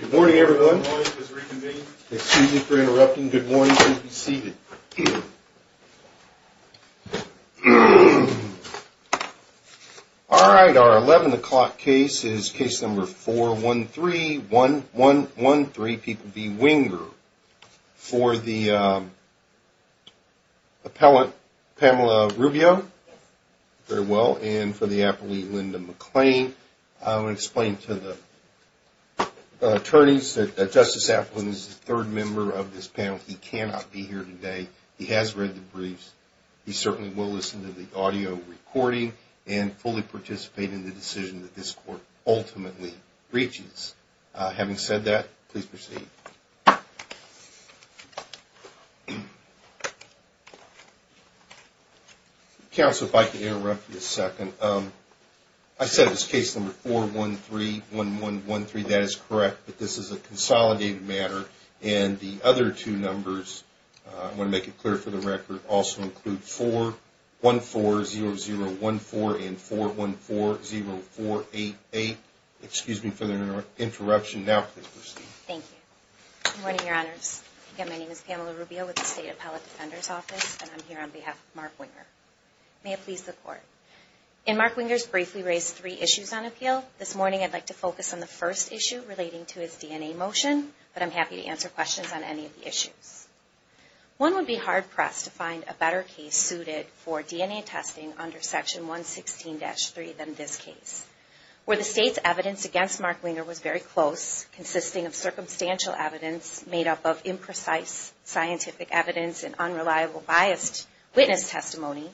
Good morning, everyone. Excuse me for interrupting. Good morning. Please be seated. All right. Our 11 o'clock case is case number 4131113, people v. Winger, for the appellant Pamela Rubio. Very well. And for the appellant Linda McClain, I will explain to the attorneys that Justice Applin is the third member of this panel. He cannot be here today. He has read the briefs. He certainly will listen to the audio recording and fully participate in the decision that this court ultimately reaches. Having said that, please proceed. Counsel, if I can interrupt you a second. I said it was case number 4131113. That is correct, but this is a consolidated matter. And the other two numbers, I want to make it clear for the record, also include 4140014 and 4140488. Excuse me for the interruption. Now please proceed. Thank you. Good morning, Your Honors. Again, my name is Pamela Rubio with the State Appellate Defender's Office, and I'm here on behalf of Mark Winger. May it please the Court. In Mark Winger's brief, we raised three issues on appeal. This morning, I'd like to focus on the first issue relating to his DNA motion, but I'm happy to answer questions on any of the issues. One would be hard-pressed to find a better case suited for DNA testing under Section 116-3 than this case, where the State's evidence against Mark Winger was very close, consisting of circumstantial evidence made up of imprecise scientific evidence and unreliable biased witness testimony,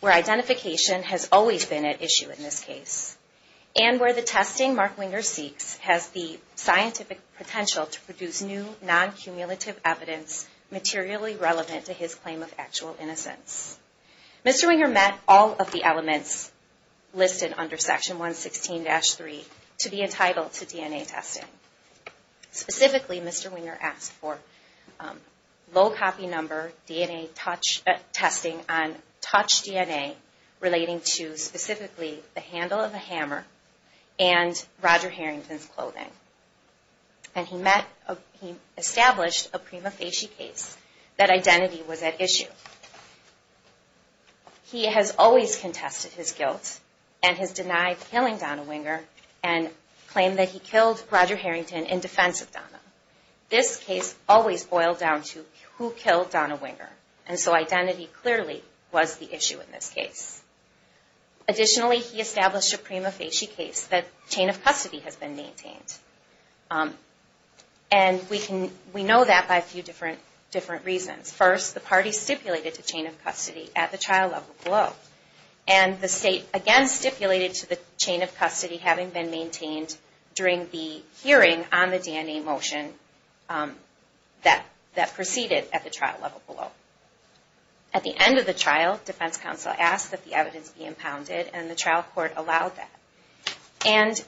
where identification has always been at issue in this case, and where the testing Mark Winger seeks has the scientific potential to produce new, non-cumulative evidence materially relevant to his claim of actual innocence. Mr. Winger met all of the elements listed under Section 116-3 to be entitled to DNA testing. Specifically, Mr. Winger asked for low-copy number DNA testing on touch DNA relating to specifically the handle of a hammer and Roger Harrington's clothing, and he established a prima facie case that identity was at issue. He has always contested his guilt and has denied killing Donna Winger and claimed that he killed Roger Harrington in defense of Donna. This case always boiled down to who killed Donna Winger, and so identity clearly was the issue in this case. Additionally, he established a prima facie case that chain of custody has been maintained, and we know that by a few different reasons. First, the party stipulated to chain of custody at the trial level below, and the state again stipulated to the chain of custody having been maintained during the hearing on the DNA motion that proceeded at the trial level below. At the end of the trial, defense counsel asked that the evidence be impounded, and the trial court allowed that.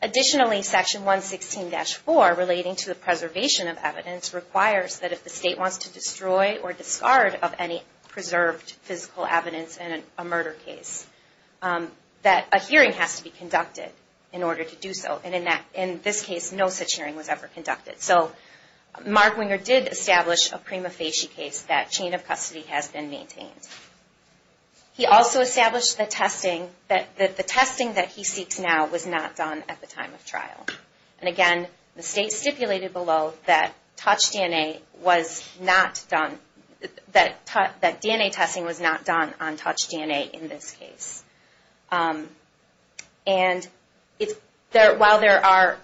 Additionally, Section 116-4 relating to the preservation of evidence requires that if the state wants to destroy or discard of any preserved physical evidence in a murder case, that a hearing has to be conducted in order to do so. In this case, no such hearing was ever conducted. Mark Winger did establish a prima facie case that chain of custody has been maintained. He also established the testing, that the testing that he seeks now was not done at the time of trial. And again, the state stipulated below that touch DNA was not done, that DNA testing was not done on touch DNA in this case. And while there are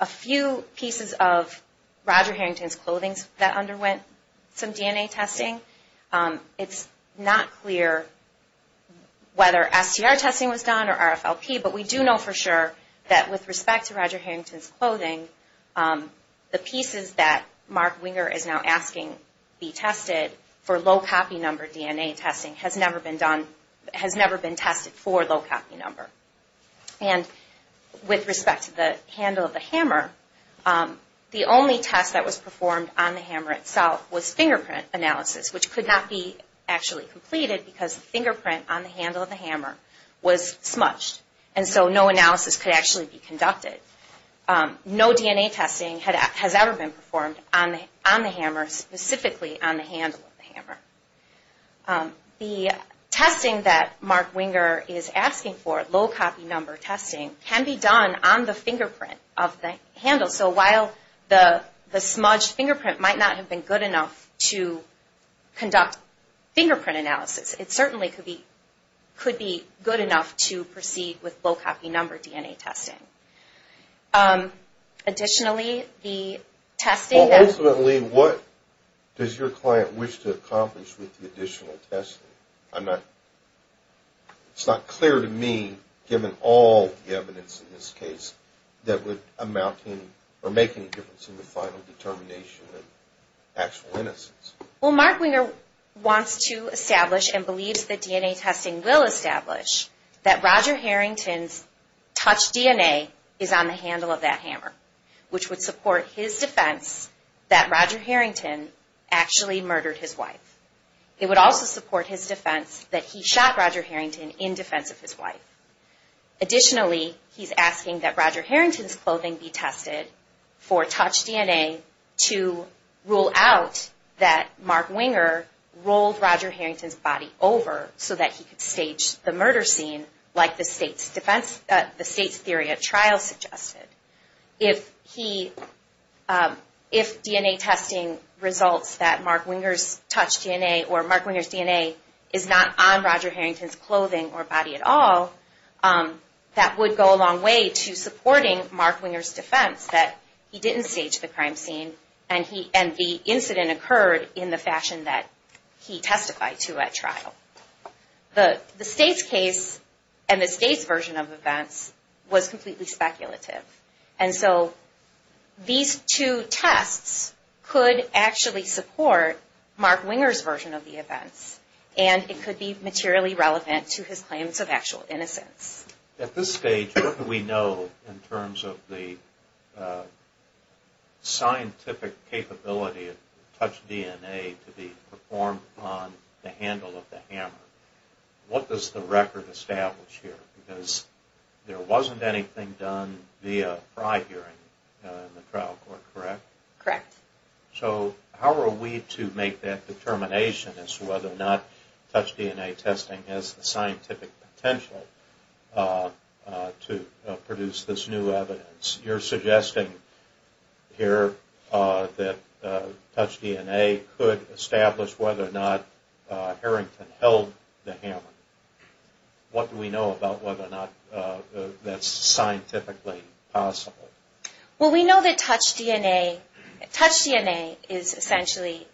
a few pieces of Roger Harrington's clothing that underwent some DNA testing, it's not clear whether STR testing was done or RFLP, but we do know for sure that with respect to Roger Harrington's clothing, the pieces that Mark Winger is now asking be tested for low copy number DNA testing has never been done, has never been tested for low copy number. And with respect to the handle of the hammer, the only test that was performed on the hammer itself was fingerprint analysis, which could not be actually completed because the fingerprint on the handle of the hammer was smudged. And so no analysis could actually be conducted. No DNA testing has ever been performed on the hammer, specifically on the handle of the hammer. The testing that Mark Winger is asking for, low copy number testing, can be done on the fingerprint of the handle. So while the smudged fingerprint might not have been good enough to conduct fingerprint analysis, it certainly could be good enough to proceed with low copy number DNA testing. Additionally, the testing... Well, ultimately, what does your client wish to accomplish with the additional testing? I'm not... it's not clear to me, given all the evidence in this case, that would amount to or make any difference in the final determination of actual innocence. Well, Mark Winger wants to establish and believes that DNA testing will establish that Roger Harrington's Touch DNA is on the handle of that hammer, which would support his defense that Roger Harrington actually murdered his wife. It would also support his defense that he shot Roger Harrington in defense of his wife. Additionally, he's asking that Roger Harrington's clothing be tested for Touch DNA to rule out that Mark Winger rolled Roger Harrington's body over so that he could stage the murder scene, like the state's theory at trial suggested. If DNA testing results that Mark Winger's Touch DNA or Mark Winger's DNA is not on Roger Harrington's clothing or body at all, that would go a long way to supporting Mark Winger's defense that he didn't stage the crime scene and the incident occurred in the fashion that he testified to at trial. The state's case and the state's version of events was completely speculative. And so these two tests could actually support Mark Winger's version of the events and it could be materially relevant to his claims of actual innocence. At this stage, what do we know in terms of the scientific capability of Touch DNA to be performed on the handle of the hammer? What does the record establish here? Because there wasn't anything done via prior hearing in the trial court, correct? Correct. So how are we to make that determination as to whether or not Touch DNA testing has the scientific potential to produce this new evidence? You're suggesting here that Touch DNA could establish whether or not Harrington held the hammer. What do we know about whether or not that's scientifically possible? Well, we know that Touch DNA is essentially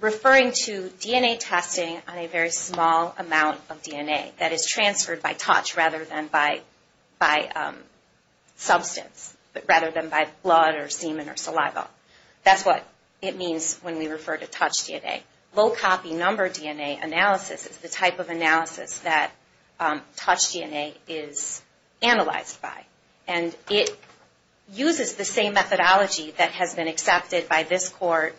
referring to DNA testing on a very small amount of DNA that is transferred by touch rather than by substance, rather than by blood or semen or saliva. That's what it means when we refer to Touch DNA. Low copy number DNA analysis is the type of analysis that Touch DNA is analyzed by. And it uses the same methodology that has been accepted by this court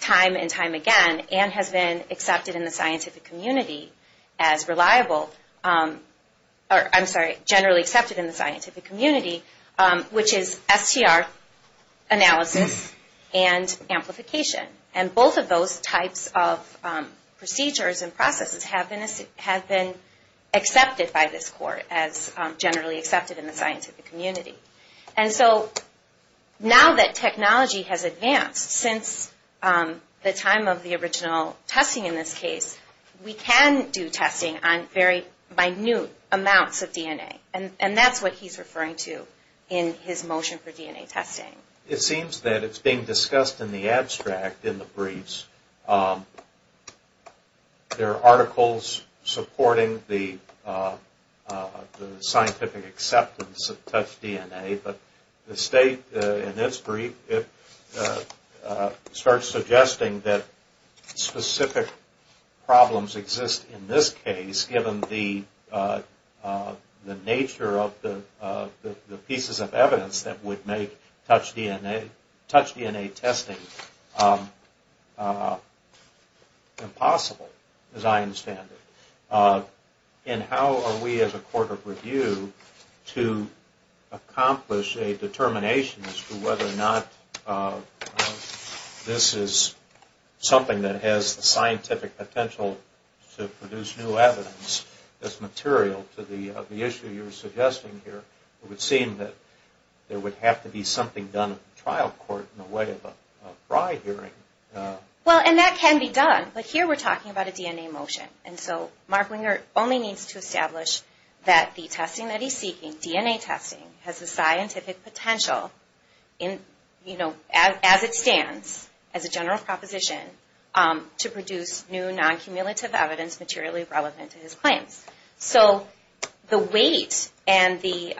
time and time again and has been accepted in the scientific community as reliable. I'm sorry, generally accepted in the scientific community, which is STR analysis and amplification. And both of those types of procedures and processes have been accepted by this court as generally accepted in the scientific community. And so now that technology has advanced since the time of the original testing in this case, we can do testing on very minute amounts of DNA. And that's what he's referring to in his motion for DNA testing. It seems that it's being discussed in the abstract in the briefs. There are articles supporting the scientific acceptance of Touch DNA, but the state in its brief starts suggesting that specific problems exist in this case given the nature of the pieces of evidence that would make Touch DNA testing impossible, as I understand it. And how are we as a court of review to accomplish a determination as to whether or not this is something that has the scientific potential to produce new evidence that's material to the issue you're suggesting here? It would seem that there would have to be something done at the trial court in the way of a fry hearing. Well, and that can be done. But here we're talking about a DNA motion. And so Mark Winger only needs to establish that the testing that he's seeking, DNA testing, has the scientific potential as it stands, as a general proposition, to produce new non-cumulative evidence materially relevant to his claims. So the weight and the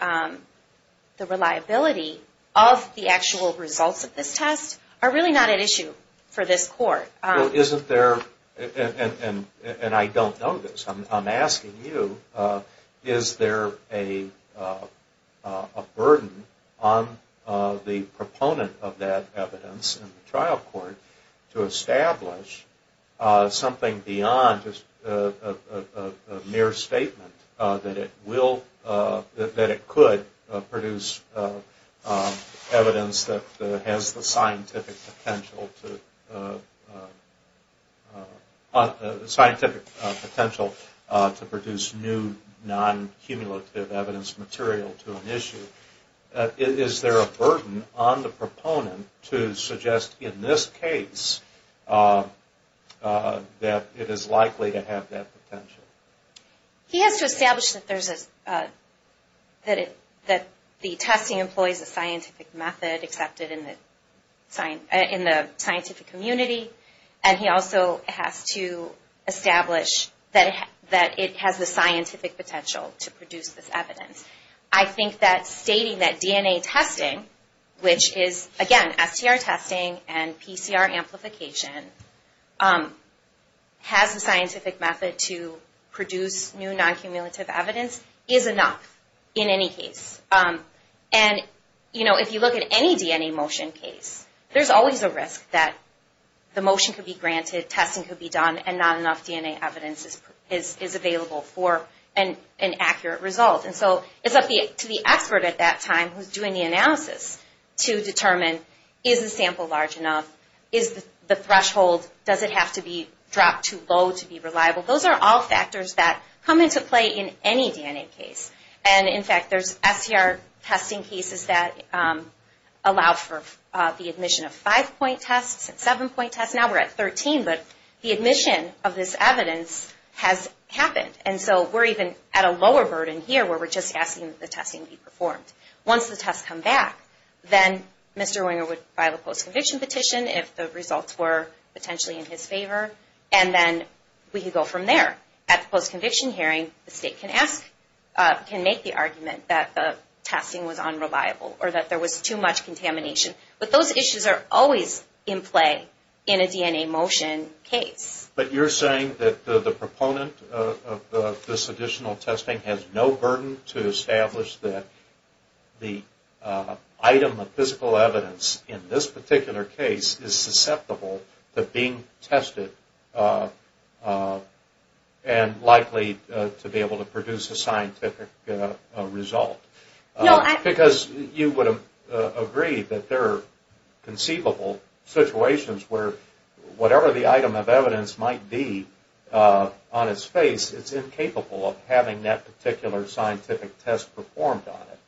reliability of the actual results of this test are really not at issue for this court. Well, isn't there, and I don't know this, I'm asking you, is there a burden on the proponent of that evidence in the trial court to establish something beyond just a mere statement that it could produce evidence that has the scientific potential to produce new non-cumulative evidence material to an issue? Is there a burden on the proponent to suggest in this case that it is likely to have that potential? He has to establish that the testing employs a scientific method accepted in the scientific community, and he also has to establish that it has the scientific potential to produce this evidence. I think that stating that DNA testing, which is again, STR testing and PCR amplification, has the scientific method to produce new non-cumulative evidence is enough in any case. And if you look at any DNA motion case, there's always a risk that the motion could be granted, testing could be done, and not enough DNA evidence is available for an accurate result. And so it's up to the expert at that time who's doing the analysis to determine, is the sample large enough? Is the threshold, does it have to be dropped too low to be reliable? Those are all factors that come into play in any DNA case. And in fact, there's STR testing cases that allow for the admission of five-point tests and seven-point tests. Now we're at 13, but the admission of this evidence has happened. And so we're even at a lower burden here where we're just asking that the testing be performed. Once the tests come back, then Mr. Wenger would file a post-conviction petition if the results were potentially in his favor, and then we could go from there. At the post-conviction hearing, the state can make the argument that the testing was unreliable or that there was too much contamination. But those issues are always in play in a DNA motion case. But you're saying that the proponent of this additional testing has no burden to establish that the item of physical evidence in this particular case is susceptible to being tested and likely to be able to produce a scientific result. Because you would agree that there are conceivable situations where whatever the item of evidence might be on its face, it's incapable of having that particular scientific test performed on it.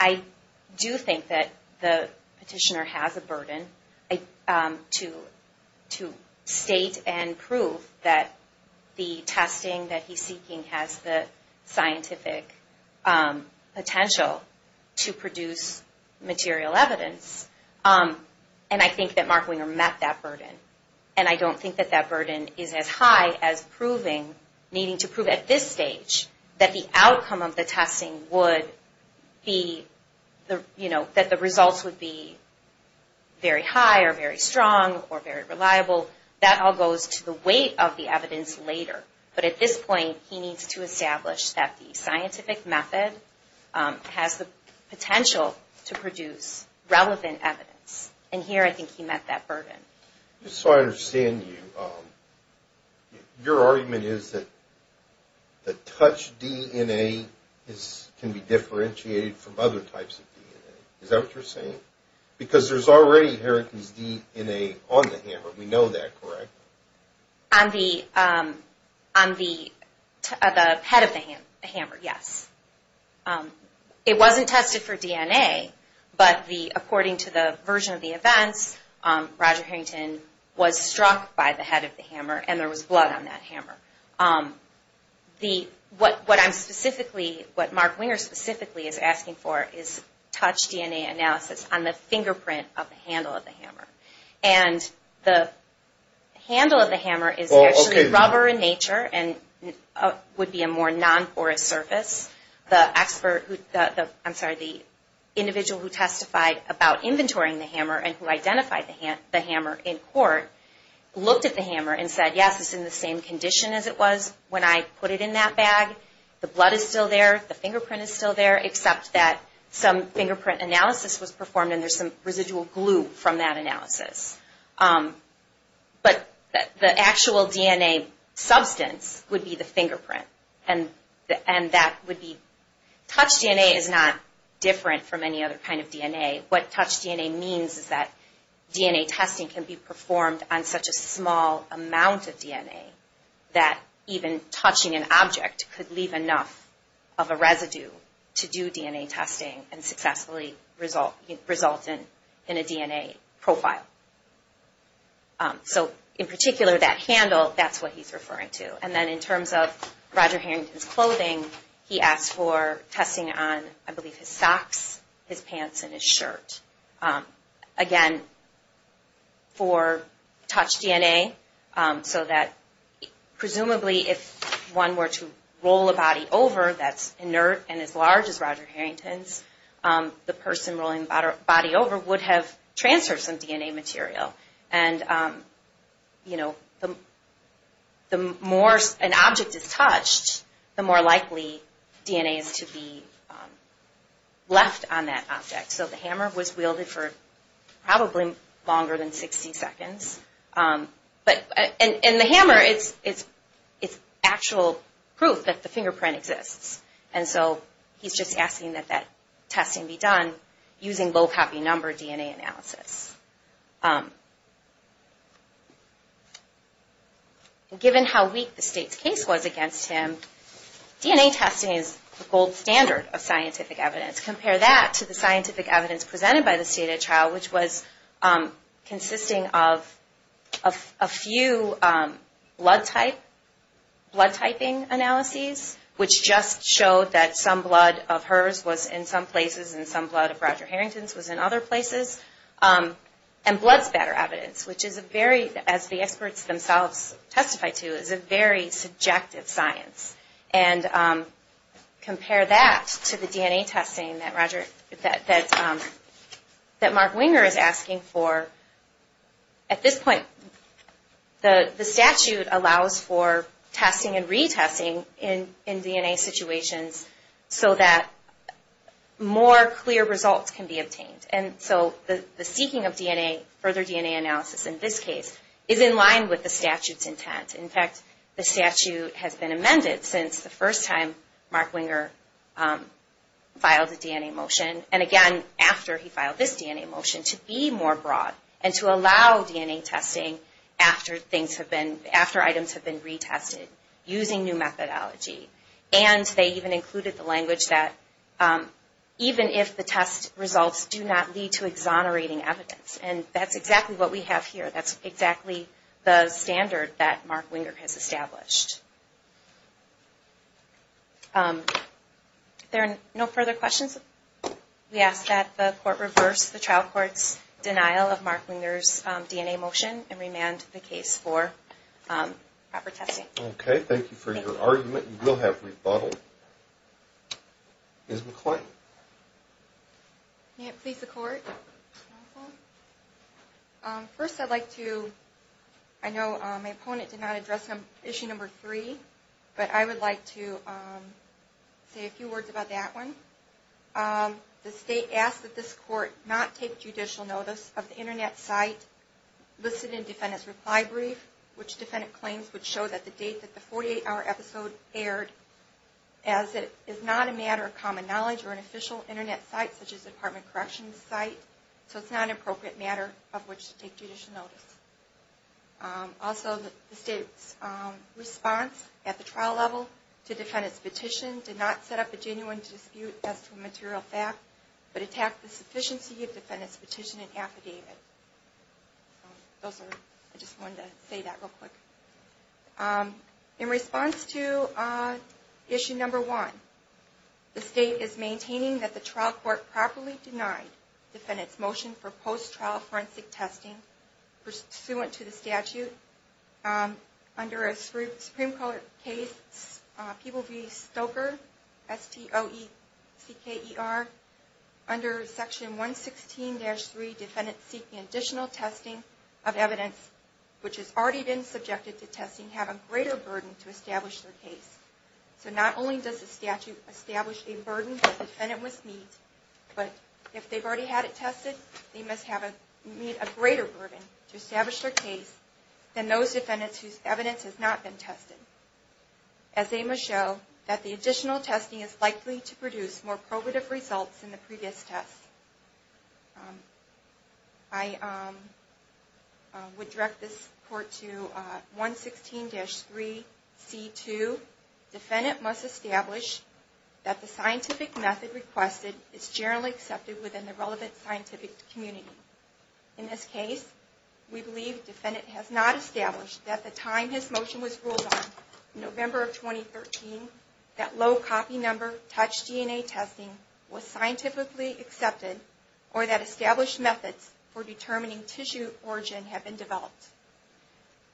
I do think that the petitioner has a burden to state and prove that the testing that he's seeking has the scientific potential to produce material evidence. And I think that Mark Wenger met that burden. And I don't think that that burden is as high as proving, needing to prove at this stage, that the outcome of the testing would be, you know, that the results would be very high or very strong or very reliable. That all goes to the weight of the evidence later. But at this point, he needs to establish that the scientific method has the potential to produce relevant evidence. And here I think he met that burden. Just so I understand you, your argument is that the touch DNA can be differentiated from other types of DNA. Is that what you're saying? Because there's already inheritance DNA on the hammer. We know that, correct? On the head of the hammer, yes. It wasn't tested for DNA, but according to the version of the events, Roger Harrington was struck by the head of the hammer and there was blood on that hammer. What Mark Wenger specifically is asking for is touch DNA analysis on the fingerprint of the handle of the hammer. And the handle of the hammer is actually rubber in nature and would be a more non-porous surface. The individual who testified about inventorying the hammer and who identified the hammer in court looked at the hammer and said, yes, it's in the same condition as it was when I put it in that bag. The blood is still there. The fingerprint is still there, except that some fingerprint analysis was performed and there's some residual glue from that analysis. But the actual DNA substance would be the fingerprint. Touch DNA is not different from any other kind of DNA. What touch DNA means is that DNA testing can be performed on such a small amount of DNA that even touching an object could leave enough of a residue to do DNA testing and successfully result in a DNA profile. So in particular, that handle, that's what he's referring to. And then in terms of Roger Harrington's clothing, he asked for testing on, I believe, his socks, his pants, and his shirt. Again, for touch DNA, so that presumably if one were to roll a body over that's inert and as large as Roger Harrington's, the person rolling the body over would have transferred some DNA material. And, you know, the more an object is touched, the more likely DNA is to be left on that object. So the hammer was wielded for probably longer than 60 seconds. And the hammer, it's actual proof that the fingerprint exists. And so he's just asking that that testing be done using low copy number DNA analysis. Given how weak the state's case was against him, DNA testing is the gold standard of scientific evidence. Compare that to the scientific evidence presented by the state of trial, which was consisting of a few blood type, blood typing analyses, which just showed that some blood of hers was in some places and some blood of Roger Harrington's was in other places, and blood spatter evidence, which is a very, as the experts themselves testified to, is a very subjective science. And compare that to the DNA testing that Mark Winger is asking for. At this point, the statute allows for testing and retesting in DNA situations so that more clear results can be obtained. And so the seeking of DNA, further DNA analysis in this case, is in line with the statute's intent. In fact, the statute has been amended since the first time Mark Winger filed a DNA motion. And again, after he filed this DNA motion, to be more broad and to allow DNA testing after things have been, after items have been retested, using new methodology. And they even included the language that even if the test results do not lead to exonerating evidence. And that's exactly what we have here. That's exactly the standard that Mark Winger has established. If there are no further questions, we ask that the court reverse the trial court's denial of Mark Winger's DNA motion and remand the case for proper testing. Okay, thank you for your argument. You will have rebuttal. Ms. McClain? May it please the court? First I'd like to, I know my opponent did not address issue number three, but I would like to say a few words about that one. The state asks that this court not take judicial notice of the internet site listed in defendant's reply brief, which defendant claims would show that the date that the 48-hour episode aired as it is not a matter of common knowledge or an official internet site such as a department corrections site. So it's not an appropriate matter of which to take judicial notice. Also, the state's response at the trial level to defendant's petition did not set up a genuine dispute as to a material fact, but attacked the sufficiency of defendant's petition and affidavit. I just wanted to say that real quick. In response to issue number one, the state is maintaining that the trial court properly denied defendant's motion for post-trial forensic testing pursuant to the statute under a Supreme Court case, People v. Stoker, S-T-O-E-C-K-E-R, under section 116-3, that the defendants seeking additional testing of evidence which has already been subjected to testing have a greater burden to establish their case. So not only does the statute establish a burden that the defendant must meet, but if they've already had it tested, they must meet a greater burden to establish their case than those defendants whose evidence has not been tested. As they must show that the additional testing is likely to produce more probative results than the previous test. I would direct this court to 116-3C2. Defendant must establish that the scientific method requested is generally accepted within the relevant scientific community. In this case, we believe defendant has not established that the time his motion was ruled on, November of 2013, that low copy number touch DNA testing was scientifically accepted or that established methods for determining tissue origin have been developed.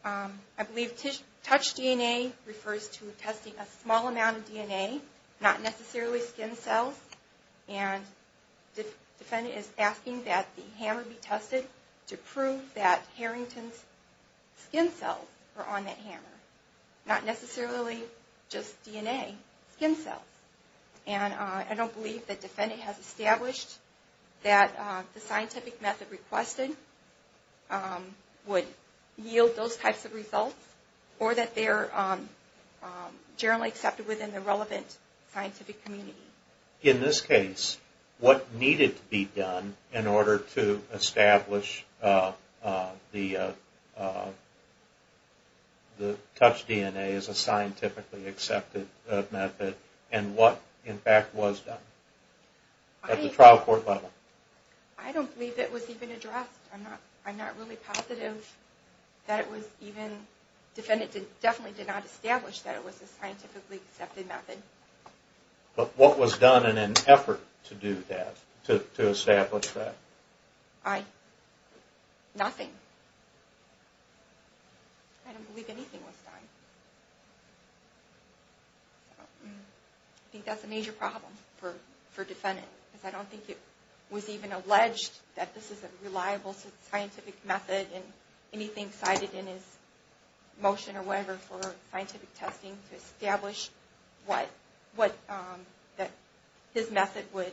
I believe touch DNA refers to testing a small amount of DNA, not necessarily skin cells, and defendant is asking that the hammer be tested to prove that Harrington's skin cells are on that hammer, not necessarily just DNA, skin cells. And I don't believe that defendant has established that the scientific method requested would yield those types of results or that they're generally accepted within the relevant scientific community. In this case, what needed to be done in order to establish the touch DNA as a scientifically accepted method and what, in fact, was done at the trial court level? I don't believe it was even addressed. I'm not really positive that it was even... Defendant definitely did not establish that it was a scientifically accepted method. But what was done in an effort to do that, to establish that? Nothing. I don't believe anything was done. I think that's a major problem for defendant. Because I don't think it was even alleged that this is a reliable scientific method and anything cited in his motion or whatever for scientific testing to establish what... that his method would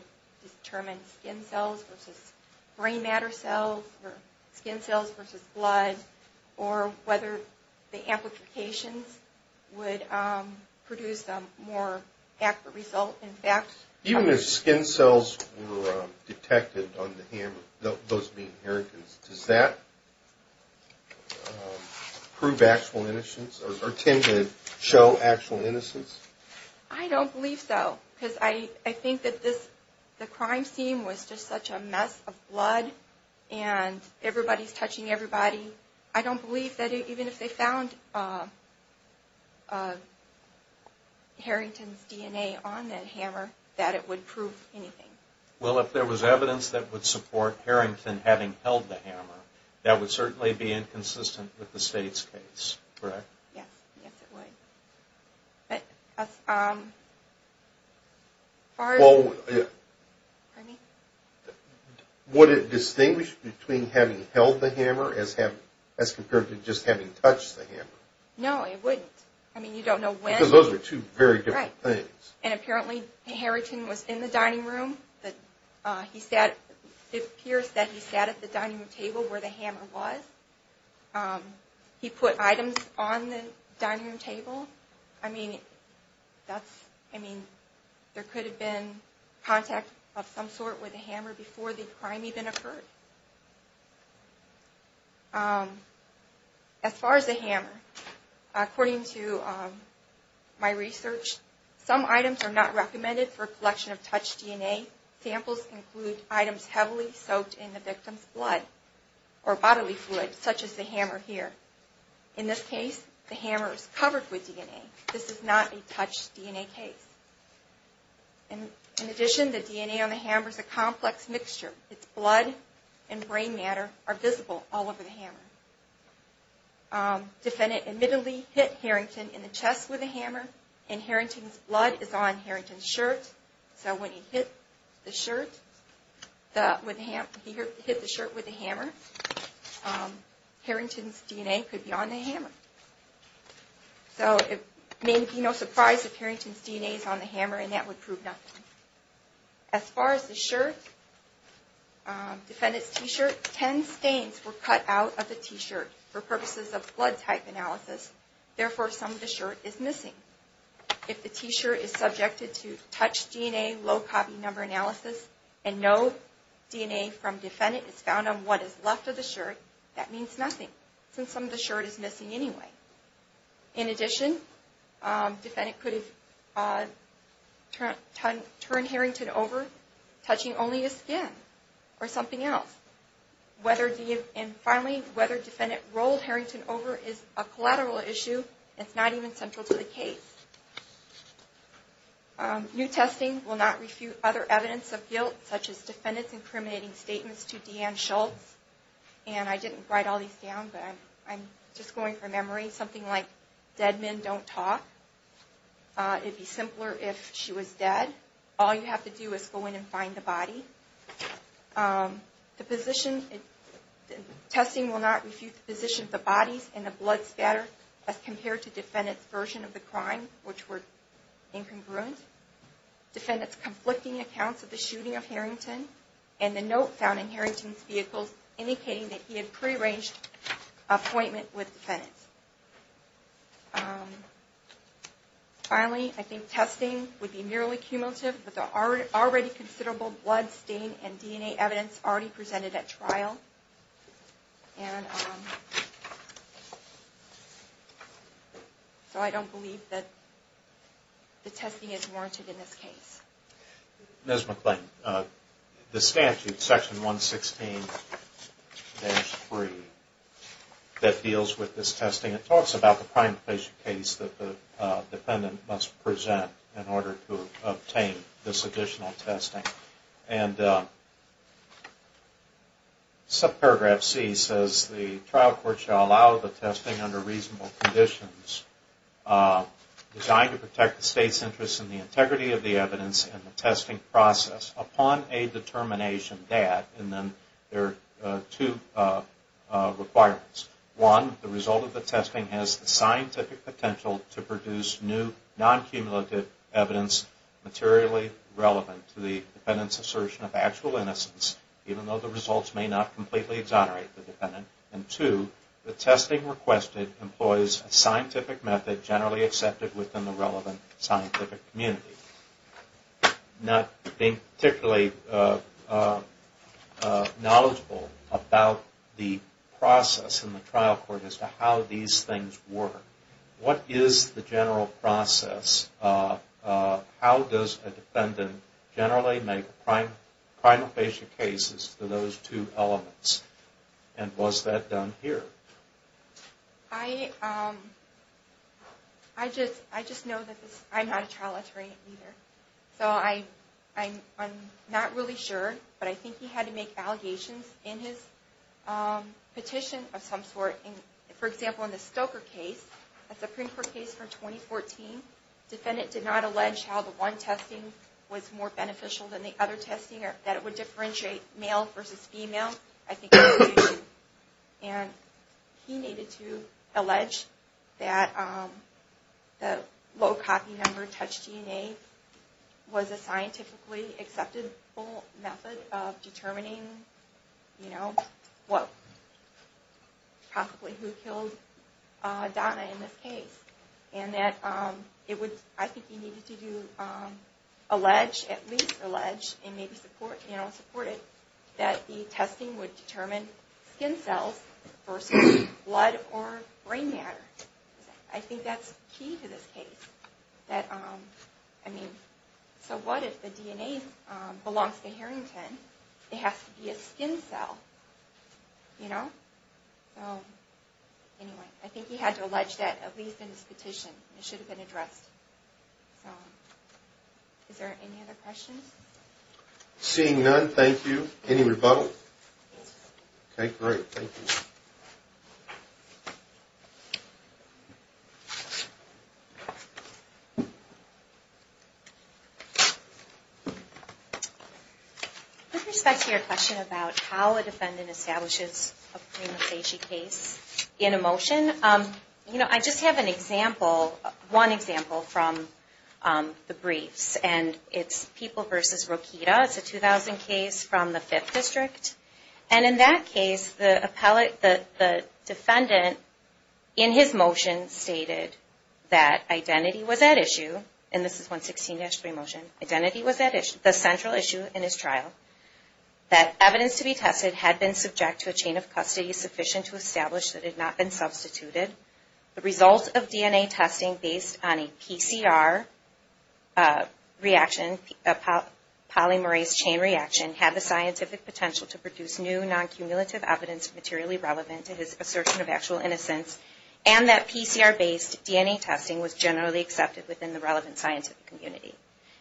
determine skin cells versus brain matter cells or skin cells versus blood or whether the amplifications would produce a more accurate result. In fact... Even if skin cells were detected on the hammer, those being inheritance, does that prove actual innocence or tend to show actual innocence? I don't believe so. Because I think that the crime scene was just such a mess of blood and everybody's touching everybody. I don't believe that even if they found Harrington's DNA on that hammer, that it would prove anything. Well, if there was evidence that would support Harrington having held the hammer, that would certainly be inconsistent with the state's case, correct? Yes. Yes, it would. Would it distinguish between having held the hammer as compared to just having touched the hammer? No, it wouldn't. I mean, you don't know when. Because those are two very different things. Right. And apparently Harrington was in the dining room. It appears that he sat at the dining room table where the hammer was. He put items on the dining room table. I mean, there could have been contact of some sort with the hammer before the crime even occurred. As far as the hammer, according to my research, some items are not recommended for collection of touched DNA. Samples include items heavily soaked in the victim's blood or bodily fluid such as the hammer here. In this case, the hammer is covered with DNA. This is not a touched DNA case. In addition, the DNA on the hammer is a complex mixture. Its blood and brain matter are visible all over the hammer. Defendant admittedly hit Harrington in the chest with the hammer. And Harrington's blood is on Harrington's shirt. So when he hit the shirt with the hammer, Harrington's DNA could be on the hammer. So it may be no surprise if Harrington's DNA is on the hammer and that would prove nothing. As far as the shirt, defendant's T-shirt, 10 stains were cut out of the T-shirt for purposes of blood type analysis. Therefore, some of the shirt is missing. If the T-shirt is subjected to touch DNA low copy number analysis and no DNA from defendant is found on what is left of the shirt, that means nothing since some of the shirt is missing anyway. In addition, defendant could have turned Harrington over, touching only his skin or something else. And finally, whether defendant rolled Harrington over is a collateral issue. It's not even central to the case. New testing will not refute other evidence of guilt, such as defendant's incriminating statements to Deanne Schultz. And I didn't write all these down, but I'm just going from memory. Something like, dead men don't talk. It'd be simpler if she was dead. All you have to do is go in and find the body. Testing will not refute the position of the bodies and the blood scatter as compared to defendant's version of the crime, which were incongruent. Defendant's conflicting accounts of the shooting of Harrington and the note found in Harrington's vehicle indicating that he had pre-arranged an appointment with defendant. Finally, I think testing would be merely cumulative, but there are already considerable blood, stain, and DNA evidence already presented at trial. And so I don't believe that the testing is warranted in this case. Ms. McClain, the statute, Section 116-3, that deals with this testing, it talks about the prime patient case that the defendant must present in order to obtain this additional testing. And subparagraph C says the trial court shall allow the testing under reasonable conditions designed to protect the state's interest in the integrity of the evidence in the testing process upon a determination that, and then there are two requirements. One, the result of the testing has the scientific potential to produce new non-cumulative evidence materially relevant to the defendant's assertion of actual innocence, even though the results may not completely exonerate the defendant. And two, the testing requested employs a scientific method generally accepted within the relevant scientific community. Not being particularly knowledgeable about the process in the trial court as to how these things work, what is the general process? How does a defendant generally make prime patient cases for those two elements? And was that done here? I just know that I'm not a trial attorney either. So I'm not really sure, but I think he had to make allegations in his petition of some sort. For example, in the Stoker case, a Supreme Court case from 2014, the defendant did not allege how the one testing was more beneficial than the other testing, or that it would differentiate male versus female. I think that was the issue. And he needed to allege that the low copy number, touch DNA, was a scientifically acceptable method of determining, you know, what, possibly who killed Donna in this case. And that it would, I think he needed to do, allege, at least allege, and maybe support, you know, support it, that the testing would determine skin cells versus blood or brain matter. I think that's key to this case. That, I mean, so what if the DNA belongs to Harrington? It has to be a skin cell. You know? Anyway, I think he had to allege that, at least in his petition. It should have been addressed. So is there any other questions? Seeing none, thank you. Any rebuttals? Okay, great. Thank you. With respect to your question about how a defendant establishes a pre-missagy case in a motion, you know, I just have an example, one example from the briefs. And it's People v. Rokita. It's a 2000 case from the 5th District. And in that case, the defendant, in his motion, stated that identity was at issue, and this is 116-3 motion, identity was at issue, the central issue in his trial, that evidence to be tested had been subject to a chain of custody sufficient to establish that it had not been substituted. The result of DNA testing based on a PCR reaction, a polymerase chain reaction, had the scientific potential to produce new non-cumulative evidence materially relevant to his assertion of actual innocence. And that PCR-based DNA testing was generally accepted within the relevant scientific community.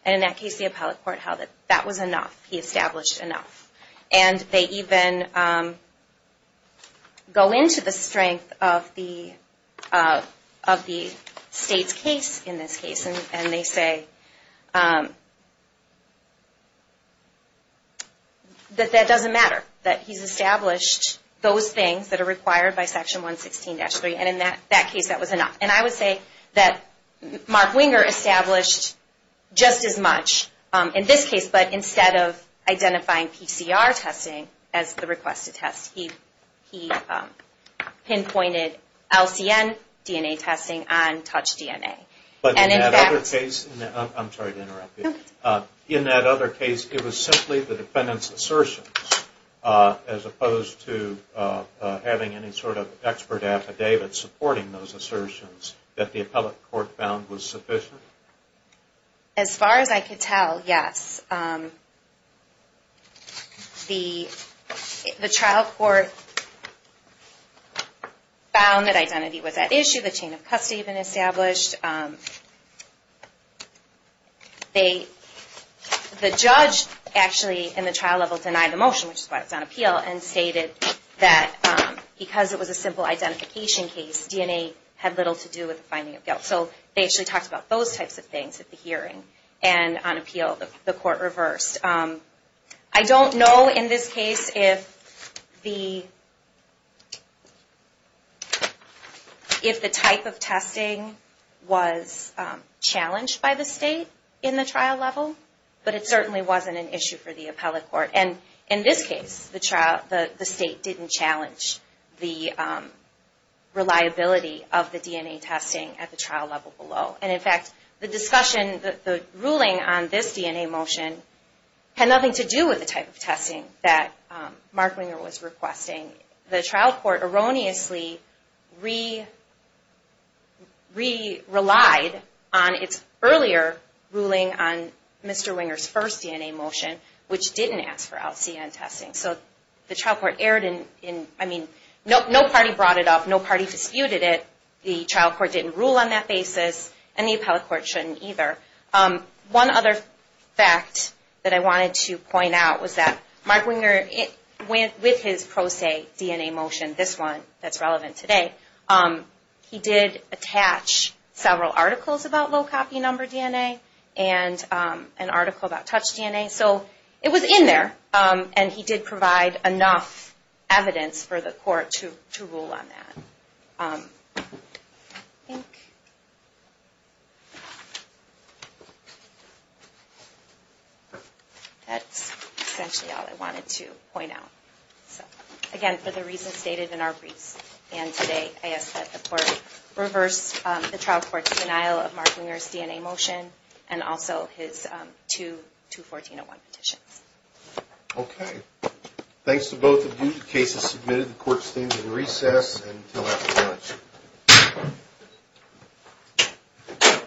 And in that case, the appellate court held that that was enough. He established enough. And they even go into the strength of the state's case in this case, and they say that that doesn't matter, that he's established those things that are required by Section 116-3, and in that case, that was enough. And I would say that Mark Winger established just as much in this case, but instead of identifying PCR testing as the request to test, he pinpointed LCN DNA testing on touch DNA. And in that other case, it was simply the defendant's assertion, as opposed to having any sort of expert affidavit supporting those assertions, that the appellate court found was sufficient? As far as I could tell, yes. The trial court found that identity was at issue. The chain of custody had been established. The judge actually in the trial level denied the motion, which is why it was on appeal, and stated that because it was a simple identification case, DNA had little to do with the finding of guilt. So they actually talked about those types of things at the hearing, and on appeal, the court reversed. I don't know in this case if the type of testing was challenged by the state in the trial level, but it certainly wasn't an issue for the appellate court. And in this case, the state didn't challenge the reliability of the DNA testing at the trial level below. And in fact, the discussion, the ruling on this DNA motion, had nothing to do with the type of testing that Mark Winger was requesting. The trial court erroneously re-relied on its earlier ruling on Mr. Winger's first DNA motion, which didn't ask for LCN testing. So the trial court erred in, I mean, no party brought it up. No party disputed it. The trial court didn't rule on that basis, and the appellate court shouldn't either. One other fact that I wanted to point out was that Mark Winger, with his pro se DNA motion, this one that's relevant today, he did attach several articles about low copy number DNA, and an article about touch DNA. So it was in there, and he did provide enough evidence for the court to rule on that. I think that's essentially all I wanted to point out. Again, for the reasons stated in our briefs and today, I ask that the court reverse the trial court's denial of Mark Winger's DNA motion, and also his two 214.01 petitions. Okay. Thanks to both of you. The case is submitted. The court stands in recess until after lunch.